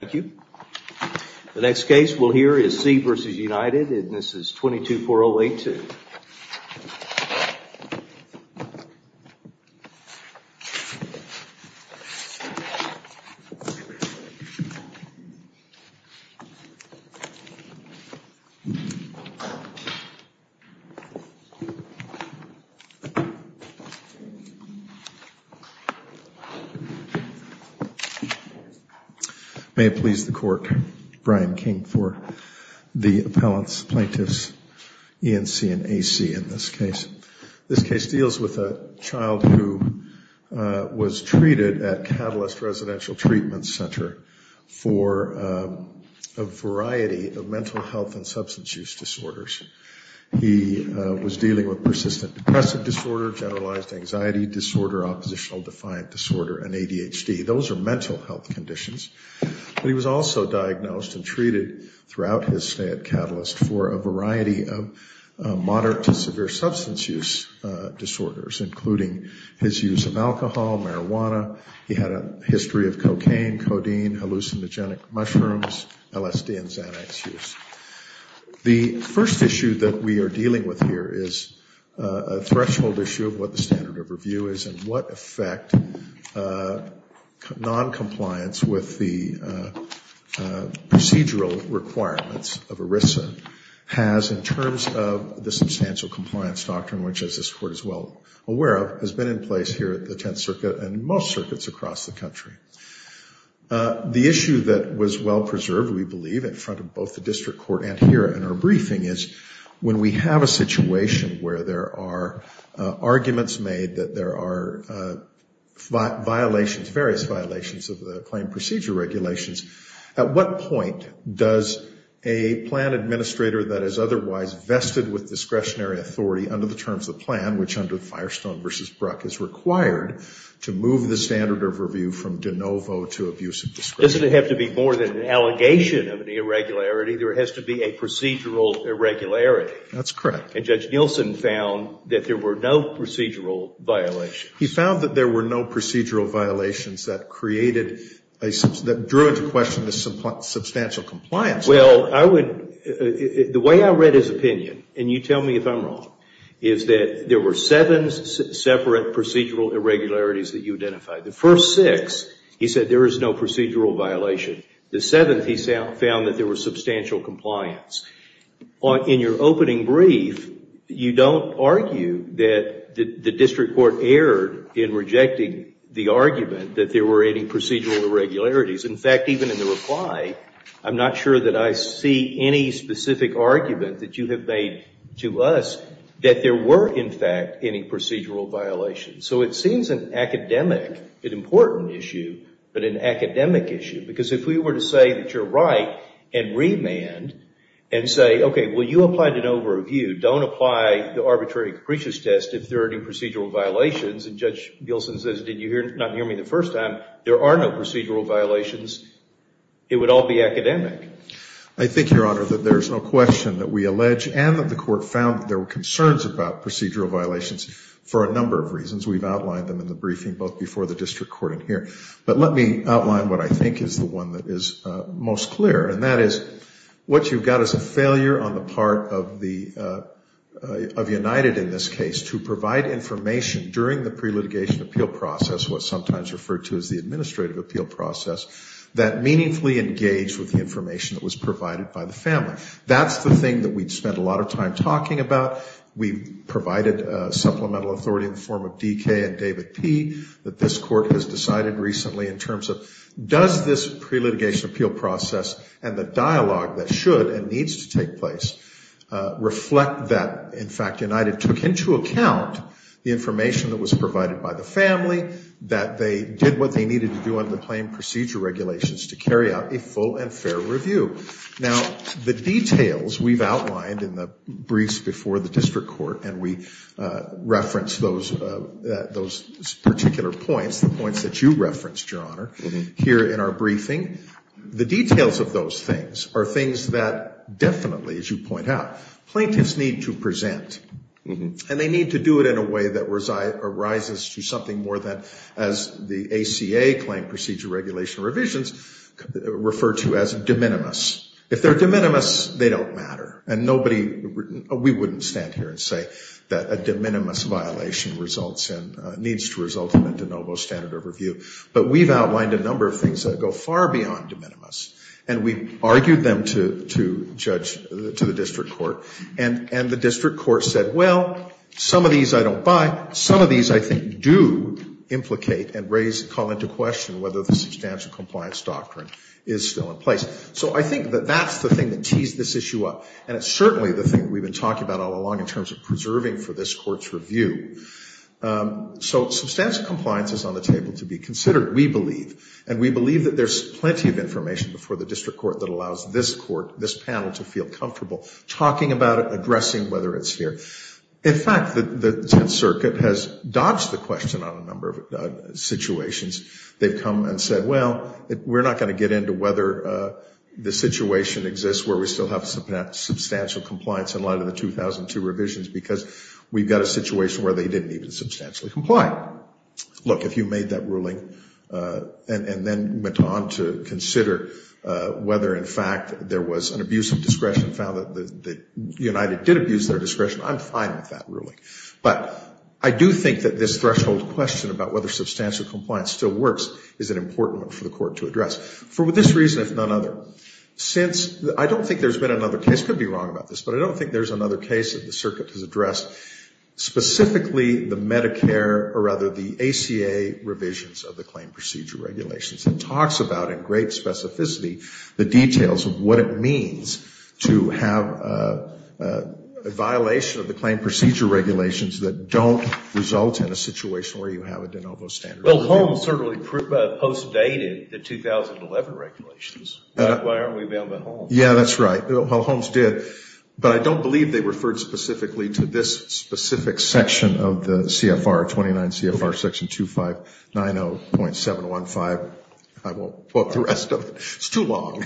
Thank you. The next case we'll hear is C. v. United and this is 22-4082. May it please the Court, Brian King for the Appellants, Plaintiffs, E&C, and A.C. in this case. This case deals with a child who was treated at Catalyst Residential Treatment Center for a variety of mental health and substance use disorders. He was dealing with persistent depressive disorder, generalized anxiety disorder, oppositional defiant disorder, and ADHD. Those are mental health conditions. But he was also diagnosed and treated throughout his stay at Catalyst for a variety of moderate to severe substance use disorders, including his use of alcohol, marijuana. He had a history of cocaine, codeine, hallucinogenic mushrooms, LSD, and Xanax use. The first issue that we are dealing with here is a threshold issue of what the standard of review is and what effect noncompliance with the procedural requirements of ERISA has in terms of the substantial compliance doctrine, which, as this Court is well aware of, has been in place here at the Tenth Circuit and most circuits across the country. The issue that was well preserved, we believe, in front of both the arguments made that there are violations, various violations of the claim procedure regulations. At what point does a plan administrator that is otherwise vested with discretionary authority under the terms of the plan, which under Firestone v. Bruck is required, to move the standard of review from de novo to abuse of discretion? Doesn't it have to be more than an allegation of an irregularity? There has to be a procedural irregularity. That's correct. And Judge Nielsen found that there were no procedural violations. He found that there were no procedural violations that created, that drew into question the substantial compliance. Well, I would, the way I read his opinion, and you tell me if I'm wrong, is that there were seven separate procedural irregularities that you identified. The first six, he said there is no procedural violation. The seventh, he found that there was substantial compliance. In your opening brief, you don't argue that the district court erred in rejecting the argument that there were any procedural irregularities. In fact, even in the reply, I'm not sure that I see any specific argument that you have made to us that there were, in fact, any procedural violations. So it seems an academic, an important issue, but an academic issue. Because if we were to say that you're right and remand and say, okay, well, you applied an overview. Don't apply the arbitrary capricious test if there are any procedural violations. And Judge Nielsen says, did you not hear me the first time? There are no procedural violations. It would all be academic. I think, Your Honor, that there's no question that we allege and that the court found that there were concerns about procedural violations for a number of reasons. We've outlined them in the briefing both before the district court and here. But let me outline what I think is the one that is most clear, and that is what you've got is a failure on the part of United in this case to provide information during the pre-litigation appeal process, what's sometimes referred to as the administrative appeal process, that meaningfully engaged with the information that was provided by the family. That's the thing that we'd spent a lot of time talking about. We provided supplemental authority in the form of DK and David P. that this court has decided recently in terms of does this pre-litigation appeal process and the dialogue that should and needs to take place reflect that, in fact, United took into account the information that was provided by the family, that they did what they needed to do under the claim procedure regulations to carry out a full and fair review. Now, the details we've outlined in the briefs before the district court and we referenced those particular points, the points that you referenced, Your Honor, here in our briefing, the details of those things are things that definitely, as you point out, plaintiffs need to present. And they need to do it in a way that arises to something more than as the ACA claim procedure regulation revisions refer to as de minimis. If they're de minimis, they don't matter. And nobody, we wouldn't stand here and say that a de minimis violation results in, needs to result in a de novo standard overview. But we've outlined a number of things that go far beyond de minimis. And we've argued them to judge, to the district court. And the district court said, well, some of these I don't buy. Some of these I think do implicate and raise, call into question whether the substantial compliance doctrine is still in issue. And it's certainly the thing that we've been talking about all along in terms of preserving for this court's review. So substantial compliance is on the table to be considered, we believe. And we believe that there's plenty of information before the district court that allows this panel to feel comfortable talking about it, addressing whether it's here. In fact, the Tenth Circuit has dodged the question on a number of situations. They've come and said, well, we're not going to get into whether the situation exists where we still have substantial compliance in light of the 2002 revisions because we've got a situation where they didn't even substantially comply. Look, if you made that ruling and then went on to consider whether, in fact, there was an abuse of discretion found that United did abuse their discretion, I'm fine with that ruling. But I do think that this threshold question about whether substantial compliance still works is an important one for the court to address. For this reason, if none other, since I don't think there's been another case, I could be wrong about this, but I don't think there's another case that the circuit has addressed, specifically the Medicare or rather the ACA revisions of the claim procedure regulations. It talks about in great specificity the details of what it means to have a violation of the claim procedure regulations that don't result in a situation where you have a de novo standard review. Well, Holmes certainly postdated the 2011 regulations. Why aren't we bound by Holmes? Yeah, that's right. Holmes did. But I don't believe they referred specifically to this specific section of the CFR, 29 CFR section 2590.715. I won't quote the rest of it. It's too long.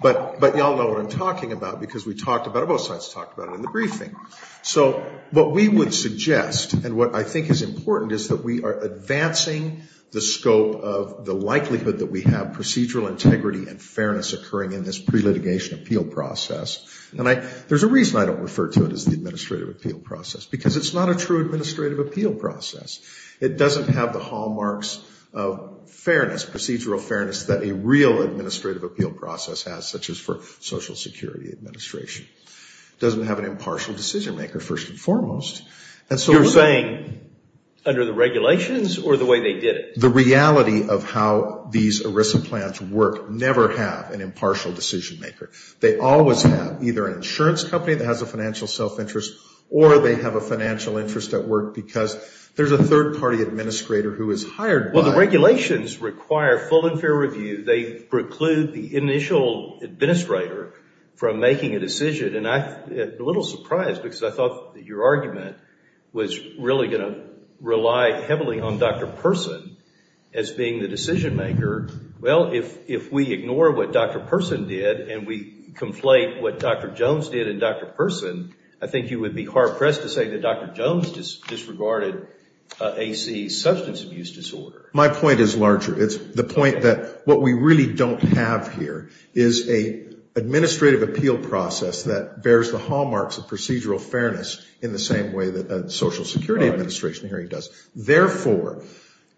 But you all know what I'm talking about because we talked about it, both sides talked about it in the briefing. So what we would suggest and what I think is important is that we are advancing the scope of the likelihood that we have procedural integrity and fairness occurring in this pre-litigation appeal process. And there's a reason I don't refer to it as the administrative appeal process, because it's not a true administrative appeal process. It doesn't have the hallmarks of fairness, procedural fairness that a real security administration. It doesn't have an impartial decision-maker, first and foremost. You're saying under the regulations or the way they did it? The reality of how these ERISA plans work never have an impartial decision-maker. They always have either an insurance company that has a financial self-interest or they have a financial interest at work because there's a third-party administrator who is hired by The regulations require full and fair review. They preclude the initial administrator from making a decision. And I'm a little surprised because I thought that your argument was really going to rely heavily on Dr. Person as being the decision-maker. Well, if we ignore what Dr. Person did and we conflate what Dr. Jones did and Dr. Person, I think you would be hard pressed to say that Dr. Jones disregarded AC substance abuse disorder. My point is larger. It's the point that what we really don't have here is an administrative appeal process that bears the hallmarks of procedural fairness in the same way that a social security administration hearing does. Therefore,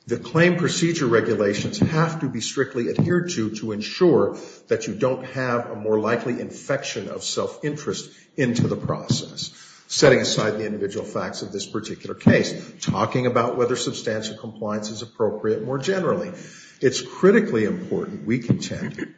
the claim procedure regulations have to be strictly adhered to to ensure that you don't have a more likely infection of self-interest into the process. Setting aside the individual facts of this particular case, talking about whether substantial compliance is appropriate more generally. It's critically important we contend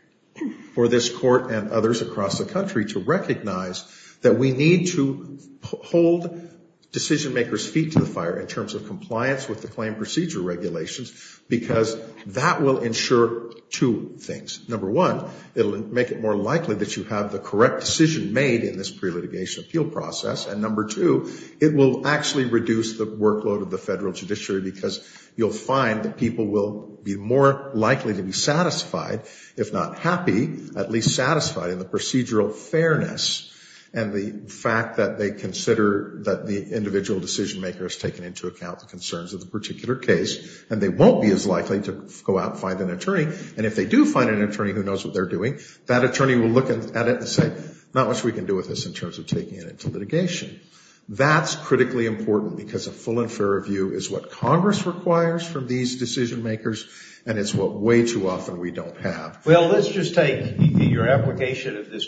for this court and others across the country to recognize that we need to hold decision-makers' feet to the fire in terms of compliance with the claim procedure regulations because that will ensure two things. Number one, it will make it more likely that you have the correct decision made in this pre-litigation appeal process. And number two, it will actually reduce the workload of the federal judiciary because you'll find that people will be more likely to be satisfied, if not happy, at least satisfied in the procedural fairness and the fact that they consider that the individual decision-maker has taken into account the concerns of the particular case and they won't be as likely to go out and find an attorney. And if they do find an attorney who knows what they're doing, that attorney will look at it and say, not much we can do with this in terms of taking it into litigation. That's critically important because a full and fair review is what Congress requires from these decision-makers and it's what way too often we don't have. Well, let's just take your application of this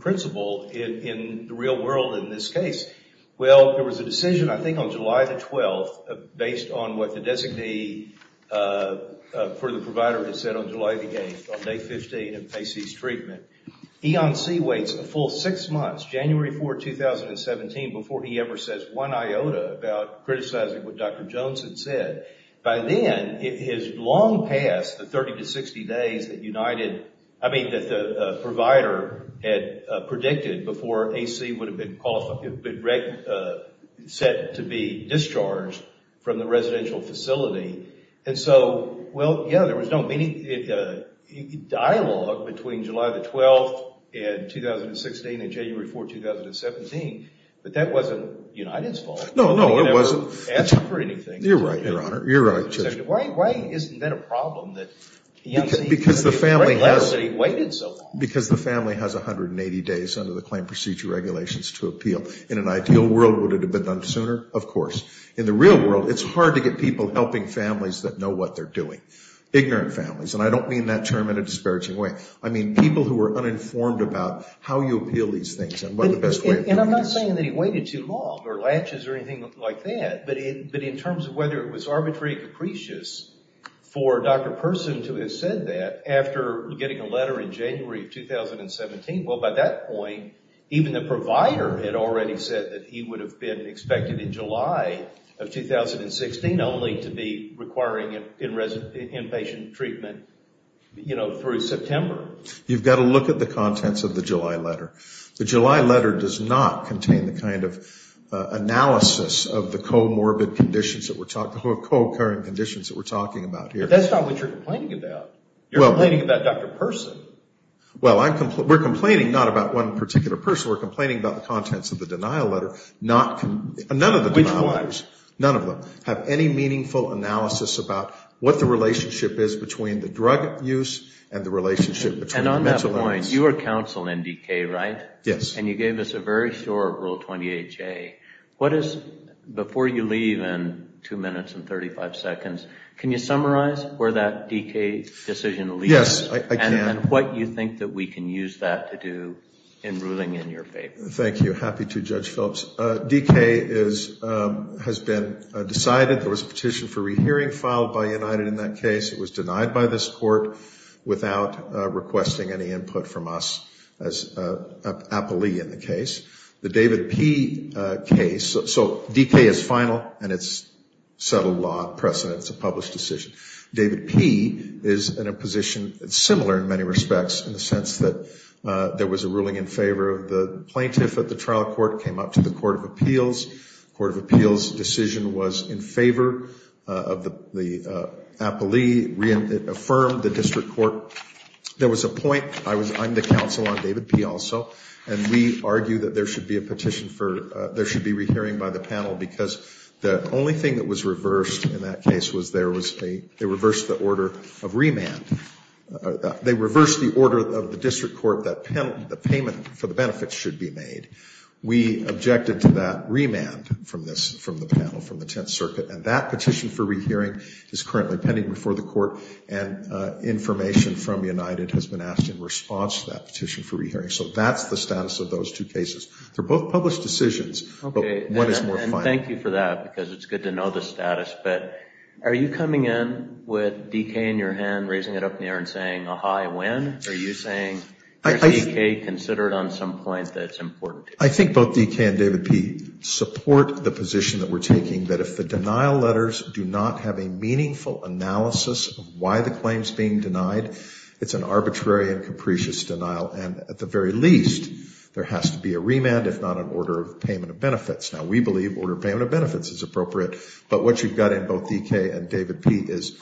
principle in the real world in this case. Well, there was a decision, I think, on July the 12th based on what the designee for the EONC waits a full six months, January 4, 2017, before he ever says one iota about criticizing what Dr. Jones had said. By then, it is long past the 30 to 60 days that the provider had predicted before AC would have been set to be discharged from the residential facility. And so, well, yeah, there was no dialogue between July the 12th and 2016 and January 4, 2017, but that wasn't United's fault. No, no, it wasn't. He never asked for anything. You're right, Your Honor. You're right, Judge. Why isn't that a problem that EONC, the class that he waited so long? Because the family has 180 days under the claim procedure regulations to appeal. In an ideal world, would it have been done sooner? Of course. In the real world, it's hard to get people helping families that know what they're doing. Ignorant families, and I don't mean that term in a disparaging way. I mean people who are uninformed about how you appeal these things and what the best way of doing it is. And I'm not saying that he waited too long or latches or anything like that, but in terms of whether it was arbitrary or capricious for Dr. Person to have said that after getting a letter in January 2017, well, by that point, even the provider had already said that he would wait until 2016 only to be requiring inpatient treatment through September. You've got to look at the contents of the July letter. The July letter does not contain the kind of analysis of the co-occurring conditions that we're talking about here. But that's not what you're complaining about. You're complaining about Dr. Person. Well, we're complaining not about one particular person. We're complaining about the contents of the denial letter. Which was? None of them have any meaningful analysis about what the relationship is between the drug use and the relationship between the mental illness. And on that point, you were counsel in DK, right? Yes. And you gave us a very short Rule 28J. What is, before you leave in 2 minutes and 35 seconds, can you summarize where that DK decision leads? Yes, I can. And what you think that we can use that to do in ruling in your favor? Thank you. Happy to, Judge Phillips. DK has been decided. There was a petition for rehearing filed by United in that case. It was denied by this Court without requesting any input from us as an appellee in the case. The David P. case, so DK is final and it's settled law precedent. It's a published decision. David P. is in a position similar in many respects in the sense that there was a ruling in favor of the plaintiff at the trial court, came up to the Court of Appeals. Court of Appeals decision was in favor of the appellee, reaffirmed the district court. There was a point, I'm the counsel on David P. also. And we argue that there should be a petition for, there should be rehearing by the panel because the only thing that was reversed in that case was there was a, they reversed the order of remand. They reversed the order of the district court that the payment for the benefits should be made. We objected to that remand from this, from the panel, from the Tenth Circuit. And that petition for rehearing is currently pending before the court. And information from United has been asked in response to that petition for rehearing. So that's the status of those two cases. They're both published decisions, but one is more final. And thank you for that because it's good to know the status. But are you coming in with DK in your hand, raising it up in the air and saying, aha, I win? Are you saying, is DK considered on some point that it's important? I think both DK and David P. support the position that we're taking, that if the denial letters do not have a meaningful analysis of why the claim's being denied, it's an arbitrary and capricious denial. And at the very least, there has to be a remand, if not an order of payment of benefits. Now, we believe order of payment of benefits is appropriate. But what you've got in both DK and David P. is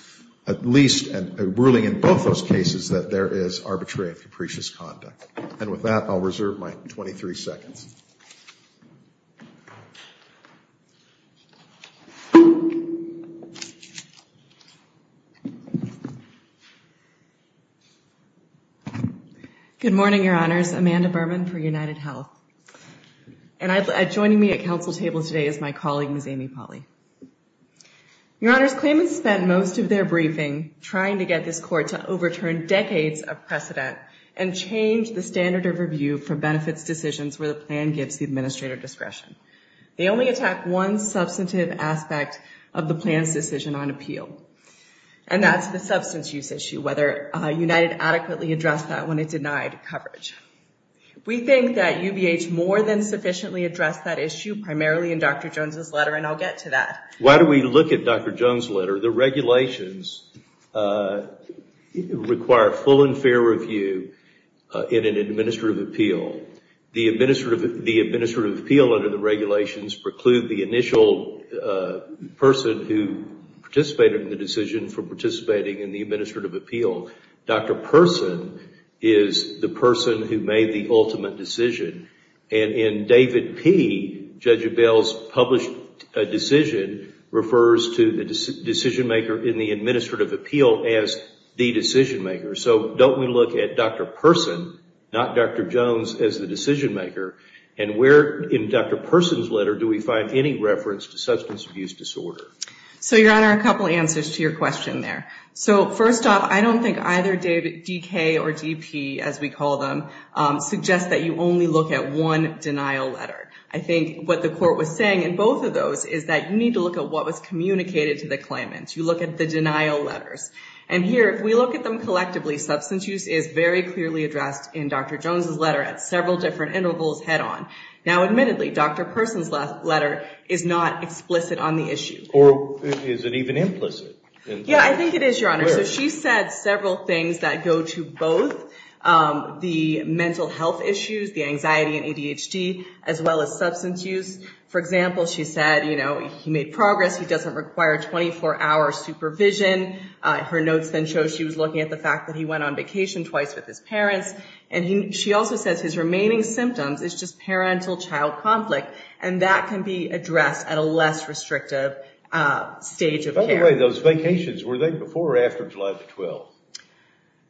at least a ruling in both those cases that there is arbitrary and capricious conduct. And with that, I'll reserve my 23 seconds. Good morning, Your Honors. Amanda Berman for UnitedHealth. And joining me at council table today is my colleague, Ms. Amy Polley. Your Honors, claimants spent most of their briefing trying to get this court to overturn decades of precedent and change the standard of review for benefits decisions where the plan gives the administrator discretion. They only attacked one substantive aspect of the plan's decision on appeal. And that's the substance use issue, whether United adequately addressed that when it denied coverage. We think that UBH more than sufficiently addressed that issue, primarily in Dr. Jones' letter, and I'll get to that. Why do we look at Dr. Jones' letter? The regulations require full and fair review in an administrative appeal. The administrative appeal under the regulations preclude the initial person who participated in the decision for participating in the administrative appeal. Dr. Person is the person who made the ultimate decision. And in David P., Judge Abell's published decision refers to the decision maker in the administrative appeal as the decision maker. So don't we look at Dr. Person, not Dr. Jones, as the decision maker? And where in Dr. Person's letter do we find any reference to substance abuse disorder? So, Your Honor, a couple answers to your question there. So, first off, I don't think either DK or DP, as we call them, suggest that you only look at one denial letter. I think what the court was saying in both of those is that you need to look at what was communicated to the claimant. You look at the denial letters. And here, if we look at them collectively, substance use is very clearly addressed in Dr. Jones' letter at several different intervals head on. Now, admittedly, Dr. Person's letter is not explicit on the issue. Or is it even implicit? Yeah, I think it is, Your Honor. So she said several things that go to both the mental health issues, the anxiety and ADHD, as well as substance use. For example, she said, you know, he made progress. He doesn't require 24-hour supervision. Her notes then show she was looking at the fact that he went on vacation twice with his parents. And she also says his remaining symptoms is just parental child conflict. And that can be addressed at a less restrictive stage of care. By the way, those vacations, were they before or after July the 12th?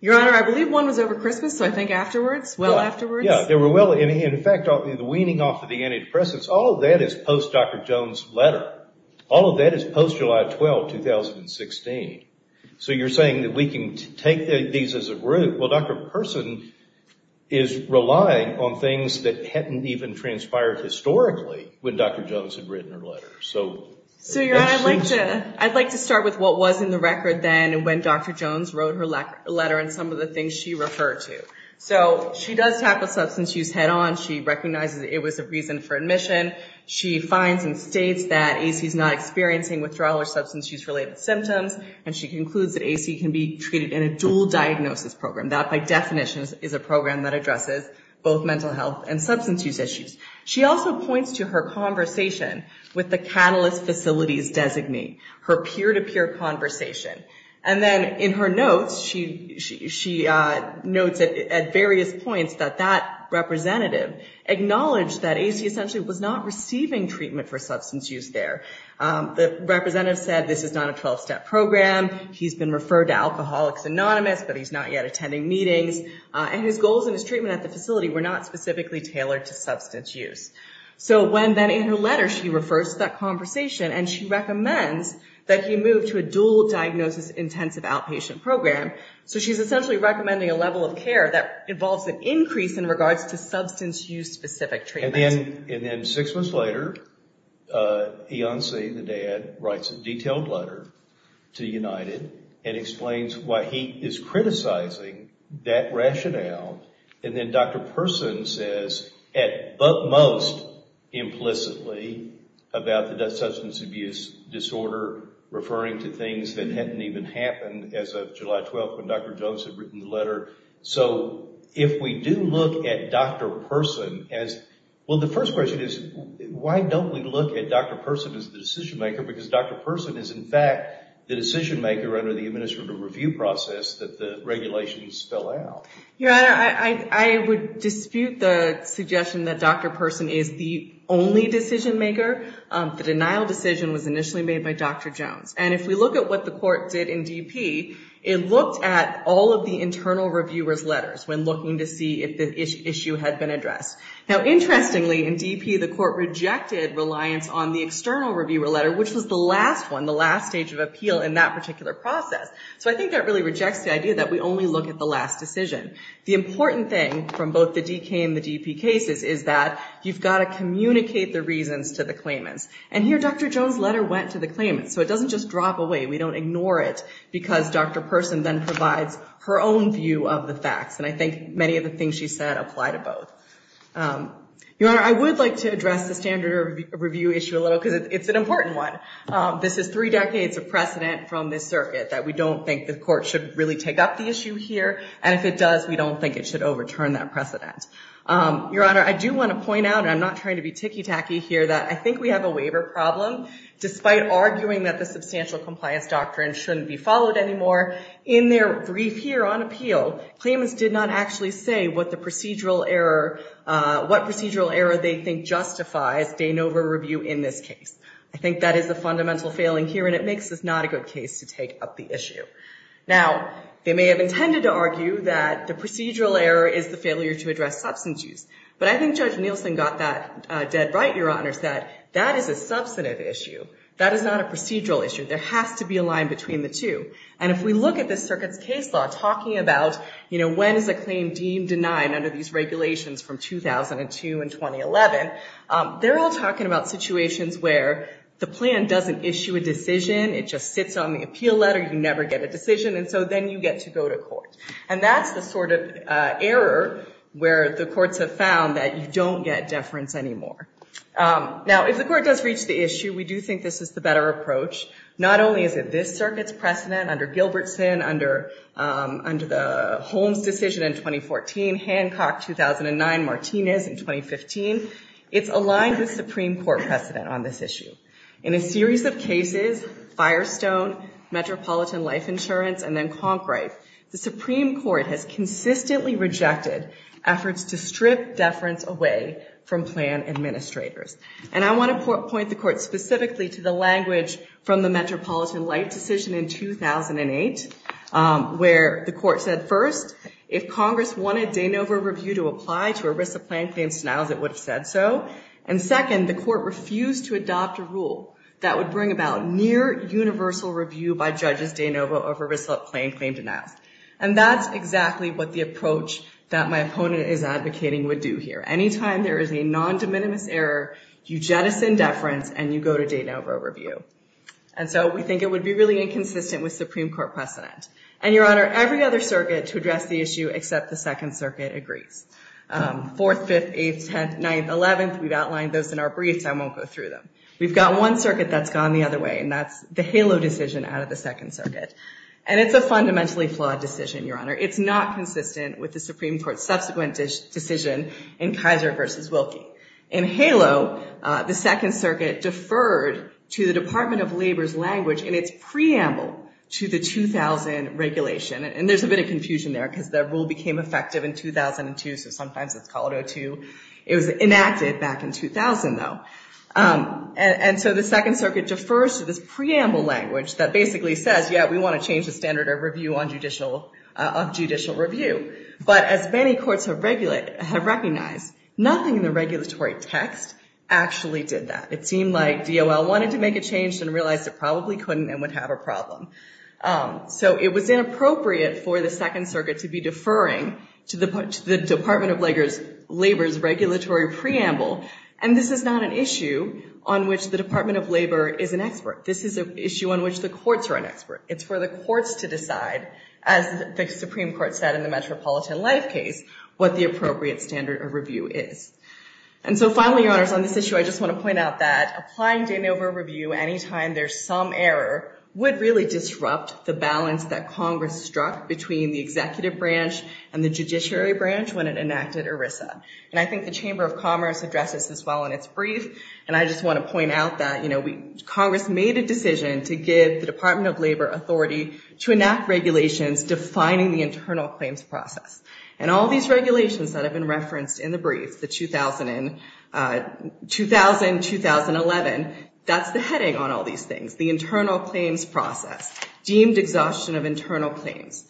Your Honor, I believe one was over Christmas. So I think afterwards, well afterwards. Yeah, they were well. And in fact, the weaning off of the antidepressants, all of that is post-Dr. Jones' letter. All of that is post-July 12, 2016. So you're saying that we can take these as a group. Well, Dr. Person is relying on things that hadn't even transpired historically when Dr. Jones had written her letter. So Your Honor, I'd like to start with what was in the record then when Dr. Jones wrote her letter and some of the things she referred to. So she does tackle substance use head-on. She recognizes it was a reason for admission. She finds and states that AC is not experiencing withdrawal or substance use-related symptoms. And she concludes that AC can be treated in a dual diagnosis program. That, by definition, is a program that addresses both mental health and substance use issues. She also points to her conversation with the Catalyst facilities designee, her peer-to-peer conversation. And then in her notes, she notes at various points that that representative acknowledged that AC essentially was not receiving treatment for substance use there. The representative said this is not a 12-step program. He's been referred to Alcoholics Anonymous, but he's not yet attending meetings. And his goals and his treatment at the facility were not specifically tailored to substance use. So when then in her letter she refers to that conversation, and she recommends that he move to a dual diagnosis intensive outpatient program. So she's essentially recommending a level of care that involves an increase in regards to substance use-specific treatment. And then six months later, Eonsi, the dad, writes a detailed letter to United and explains why he is criticizing that rationale. And then Dr. Persson says, at most implicitly, about the substance abuse disorder, referring to things that hadn't even happened as of July 12, when Dr. Jones had written the letter. So if we do look at Dr. Persson as... Well, the first question is, why don't we look at Dr. Persson as the decision maker? Because Dr. Persson is, in fact, the decision maker under the administrative review process that the regulations spell out. Your Honor, I would dispute the suggestion that Dr. Persson is the only decision maker. The denial decision was initially made by Dr. Jones. And if we look at what the court did in DP, it looked at all of the internal reviewer's letters when looking to see if the issue had been addressed. Now, interestingly, in DP, the court rejected reliance on the external reviewer letter, which was the last one, the last stage of appeal in that particular process. So I think that really rejects the idea that we only look at the last decision. The important thing from both the DK and the DP cases is that you've got to communicate the reasons to the claimants. And here, Dr. Jones' letter went to the claimants. So it doesn't just drop away. We don't ignore it because Dr. Persson then provides her own view of the facts. And I think many of the things she said apply to both. Your Honor, I would like to address the standard review issue a little because it's an important one. This is three decades of precedent from this circuit that we don't think the court should really take up the issue here. And if it does, we don't think it should overturn that precedent. Your Honor, I do want to point out, and I'm not trying to be ticky tacky here, that I think we have a waiver problem. Despite arguing that the substantial compliance doctrine shouldn't be followed anymore, in their brief here on appeal, claimants did not actually say what the procedural error, what procedural error they think justifies de novo review in this case. I think that is a fundamental failing here, and it makes this not a good case to take up the issue. Now, they may have intended to argue that the procedural error is the failure to address substance use. But I think Judge Nielsen got that dead right, Your Honor, that that is a substantive issue. That is not a procedural issue. There has to be a line between the two. And if we look at this circuit's case law, talking about when is a claim deemed denied under these regulations from 2002 and 2011, they're all talking about situations where the plan doesn't issue a decision. It just sits on the appeal letter. You never get a decision. And so then you get to go to court. And that's the sort of error where the courts have found that you don't get deference anymore. Now, if the court does reach the issue, we do think this is the better approach. Not only is it this circuit's precedent under Gilbertson, under the Holmes decision in 2014, Hancock 2009, Martinez in 2015, it's aligned with Supreme Court precedent on this issue. In a series of cases, Firestone, Metropolitan Life Insurance, and then Conkwright, the Supreme Court has consistently rejected efforts to strip deference away from plan administrators. And I want to point the court specifically to the language from the Metropolitan Life Decision in 2008, where the court said, first, if Congress wanted de novo review to apply to a risk of plan claims denials, it would have said so. And second, the court refused to adopt a rule that would bring about near universal review by judges de novo over risk of plan claim denials. And that's exactly what the approach that my opponent is advocating would do here. Anytime there is a non-de minimis error, you jettison deference, and you go to de novo review. And so we think it would be really inconsistent with Supreme Court precedent. And Your Honor, every other circuit to address the issue except the Second Circuit agrees. Fourth, Fifth, Eighth, Tenth, Ninth, Eleventh, we've outlined those in our briefs. I won't go through them. We've got one circuit that's gone the other way, and that's the HALO decision out of the Second Circuit. And it's a fundamentally flawed decision, Your Honor. It's not consistent with the Supreme Court's subsequent decision in Kaiser versus Wilkie. In HALO, the Second Circuit deferred to the Department of Labor's language in its preamble to the 2000 regulation. And there's a bit of confusion there, because that rule became effective in 2002. So sometimes it's called 02. It was enacted back in 2000, though. And so the Second Circuit defers to this preamble language that basically says, yeah, we want to change the standard of judicial review. But as many courts have recognized, nothing in the regulatory text actually did that. It seemed like DOL wanted to make a change and realized it probably couldn't and would have a problem. So it was inappropriate for the Second Circuit to be deferring to the Department of Labor's regulatory preamble. And this is not an issue on which the Department of Labor is an expert. This is an issue on which the courts are an expert. It's for the courts to decide, as the Supreme Court said in the Metropolitan Life case, what the appropriate standard of review is. And so finally, Your Honors, on this issue, I just want to point out that applying Danova review anytime there's some error would really disrupt the balance that Congress struck between the executive branch and the judiciary branch when it enacted ERISA. And I think the Chamber of Commerce addresses this well in its brief. And I just want to point out that Congress made a decision to give the Department of Labor authority to enact regulations defining the internal claims process. And all these regulations that have been referenced in the brief, the 2000 and 2011, that's the heading on all these things, the internal claims process, deemed exhaustion of internal claims.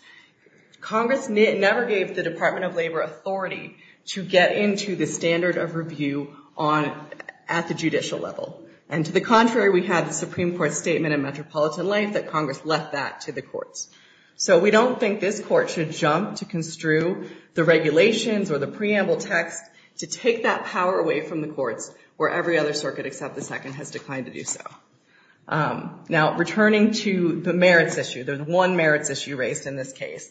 Congress never gave the Department of Labor authority to get into the standard of review at the judicial level. And to the contrary, we had the Supreme Court statement in Metropolitan Life that Congress left that to the courts. So we don't think this court should jump to construe the regulations or the preamble text to take that power away from the courts where every other circuit except the Second has declined to do so. Now, returning to the merits issue, the one merits issue raised in this case,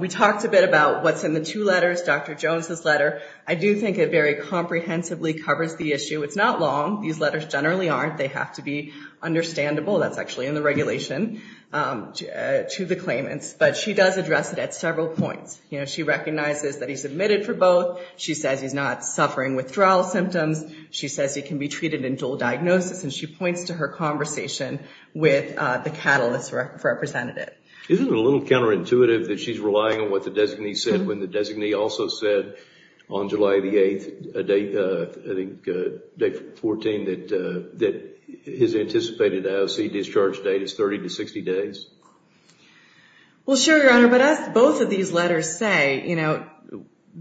we talked a bit about what's in the two letters, Dr. Jones's letter. I do think it very comprehensively covers the issue. It's not long. These letters generally aren't. They have to be understandable. That's actually in the regulation to the claimants. But she does address it at several points. She recognizes that he's admitted for both. She says he's not suffering withdrawal symptoms. She says he can be treated in dual diagnosis. And she points to her conversation with the catalyst representative. Isn't it a little counterintuitive that she's relying on what the designee said when the designee also said on July 8, I think, that his anticipated IOC discharge date is 30 to 60 days? Well, sure, Your Honor. But as both of these letters say,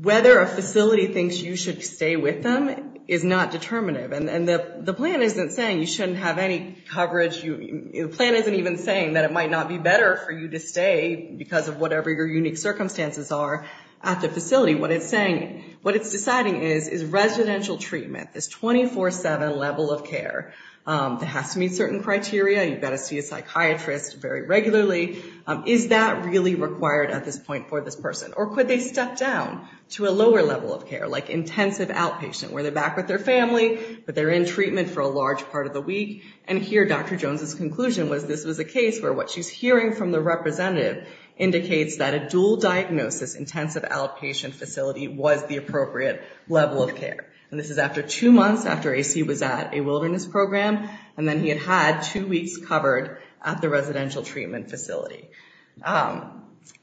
whether a facility thinks you should stay with them is not determinative. And the plan isn't saying you shouldn't have any coverage. The plan isn't even saying that it might not be better for you to stay because of whatever your unique circumstances are at the facility. What it's saying, what it's deciding is, is residential treatment. This 24-7 level of care that has to meet certain criteria. You've got to see a psychiatrist very regularly. Is that really required at this point for this person? Or could they step down to a lower level of care, like intensive outpatient, where they're back with their family, but they're in treatment for a large part of the week? And here, Dr. Jones's conclusion was this was a case where what she's hearing from the representative indicates that a dual diagnosis intensive outpatient facility was the appropriate level of care. And this is after two months, after AC was at a wilderness program, and then he had had two weeks covered at the residential treatment facility.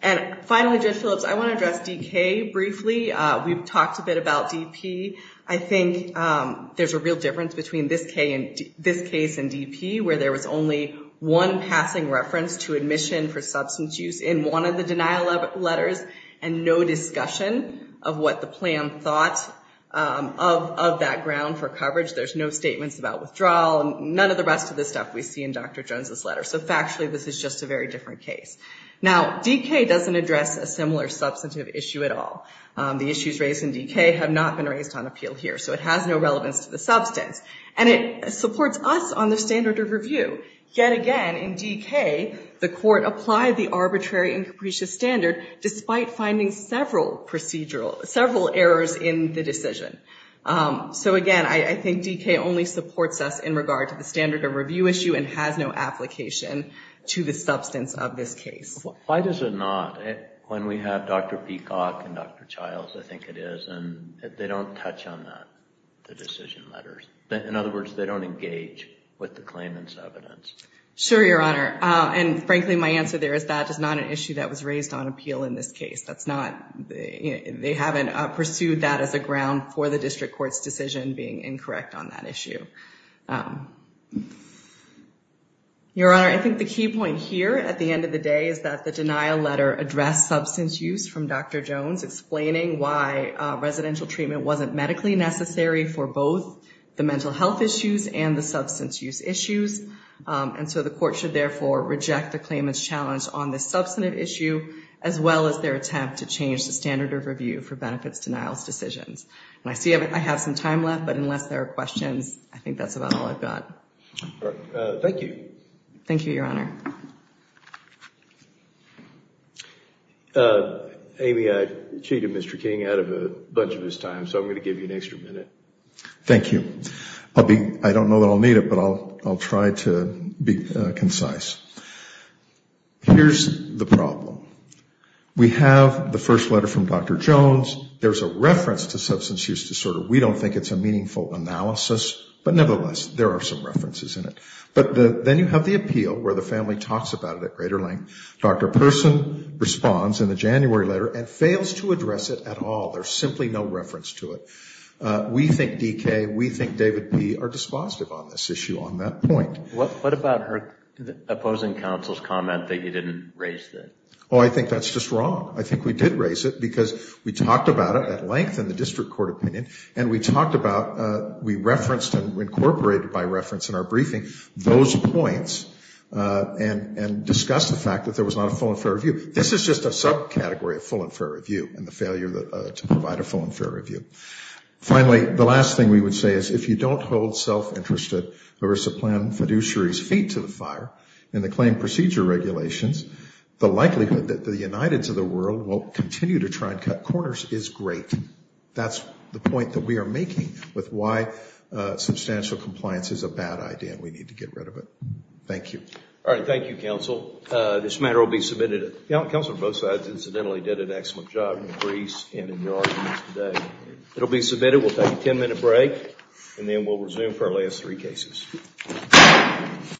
And finally, Judge Phillips, I want to address DK briefly. We've talked a bit about DP. I think there's a real difference between this case and DP, where there was only one passing reference to admission for substance use in one of the denial letters, and no discussion of what the plan thought of that ground for coverage. There's no statements about withdrawal, none of the rest of the stuff we see in Dr. Jones's letter. So factually, this is just a very different case. Now, DK doesn't address a similar substantive issue at all. The issues raised in DK have not been raised on appeal here, so it has no relevance to the substance. And it supports us on the standard of review. Yet again, in DK, the court applied the arbitrary and capricious standard despite finding several errors in the decision. So again, I think DK only supports us in regard to the standard of review issue and has no application to the substance of this case. Why does it not, when we have Dr. Peacock and Dr. Childs, I think it is, and they don't touch on that, the decision letters. In other words, they don't engage with the claimant's evidence. Sure, Your Honor, and frankly, my answer there is that is not an issue that was raised on appeal in this case. They haven't pursued that as a ground for the district court's decision being incorrect on that issue. Your Honor, I think the key point here at the end of the day is that the denial letter addressed substance use from Dr. Jones, explaining why residential treatment wasn't medically necessary for both the mental health issues and the substance use issues. And so the court should therefore reject the claimant's challenge on the substantive issue as well as their attempt to change the standard of review for benefits denial decisions. And I see I have some time left, but unless there are questions, I think that's about all I've got. Thank you. Thank you, Your Honor. Amy, I cheated Mr. King out of a bunch of his time, so I'm going to give you an extra minute. Thank you. I don't know that I'll need it, but I'll try to be concise. Here's the problem. We have the first letter from Dr. Jones. There's a reference to substance use disorder. We don't think it's a meaningful analysis, but nevertheless, there are some references in it. But then you have the appeal, where the family talks about it at greater length. Dr. Person responds in the January letter and fails to address it at all. There's simply no reference to it. We think D.K., we think David P. are dispositive on this issue on that point. What about her opposing counsel's comment that you didn't raise it? Oh, I think that's just wrong. I think we did raise it because we talked about it at length in the district court opinion, and we referenced and incorporated by reference in our briefing those points and discussed the fact that there was not a full and fair review. This is just a subcategory of full and fair review and the failure to provide a full and fair review. Finally, the last thing we would say is if you don't hold self-interested or sublime fiduciaries' feet to the fire in the claim procedure regulations, the likelihood that the Uniteds of the world will continue to try and cut corners is great. That's the point that we are making with why substantial compliance is a bad idea and we need to get rid of it. Thank you. All right, thank you, counsel. This matter will be submitted. Counsel on both sides incidentally did an excellent job in Greece and in New Orleans today. It will be submitted. We'll take a 10-minute break and then we'll resume for our last three cases.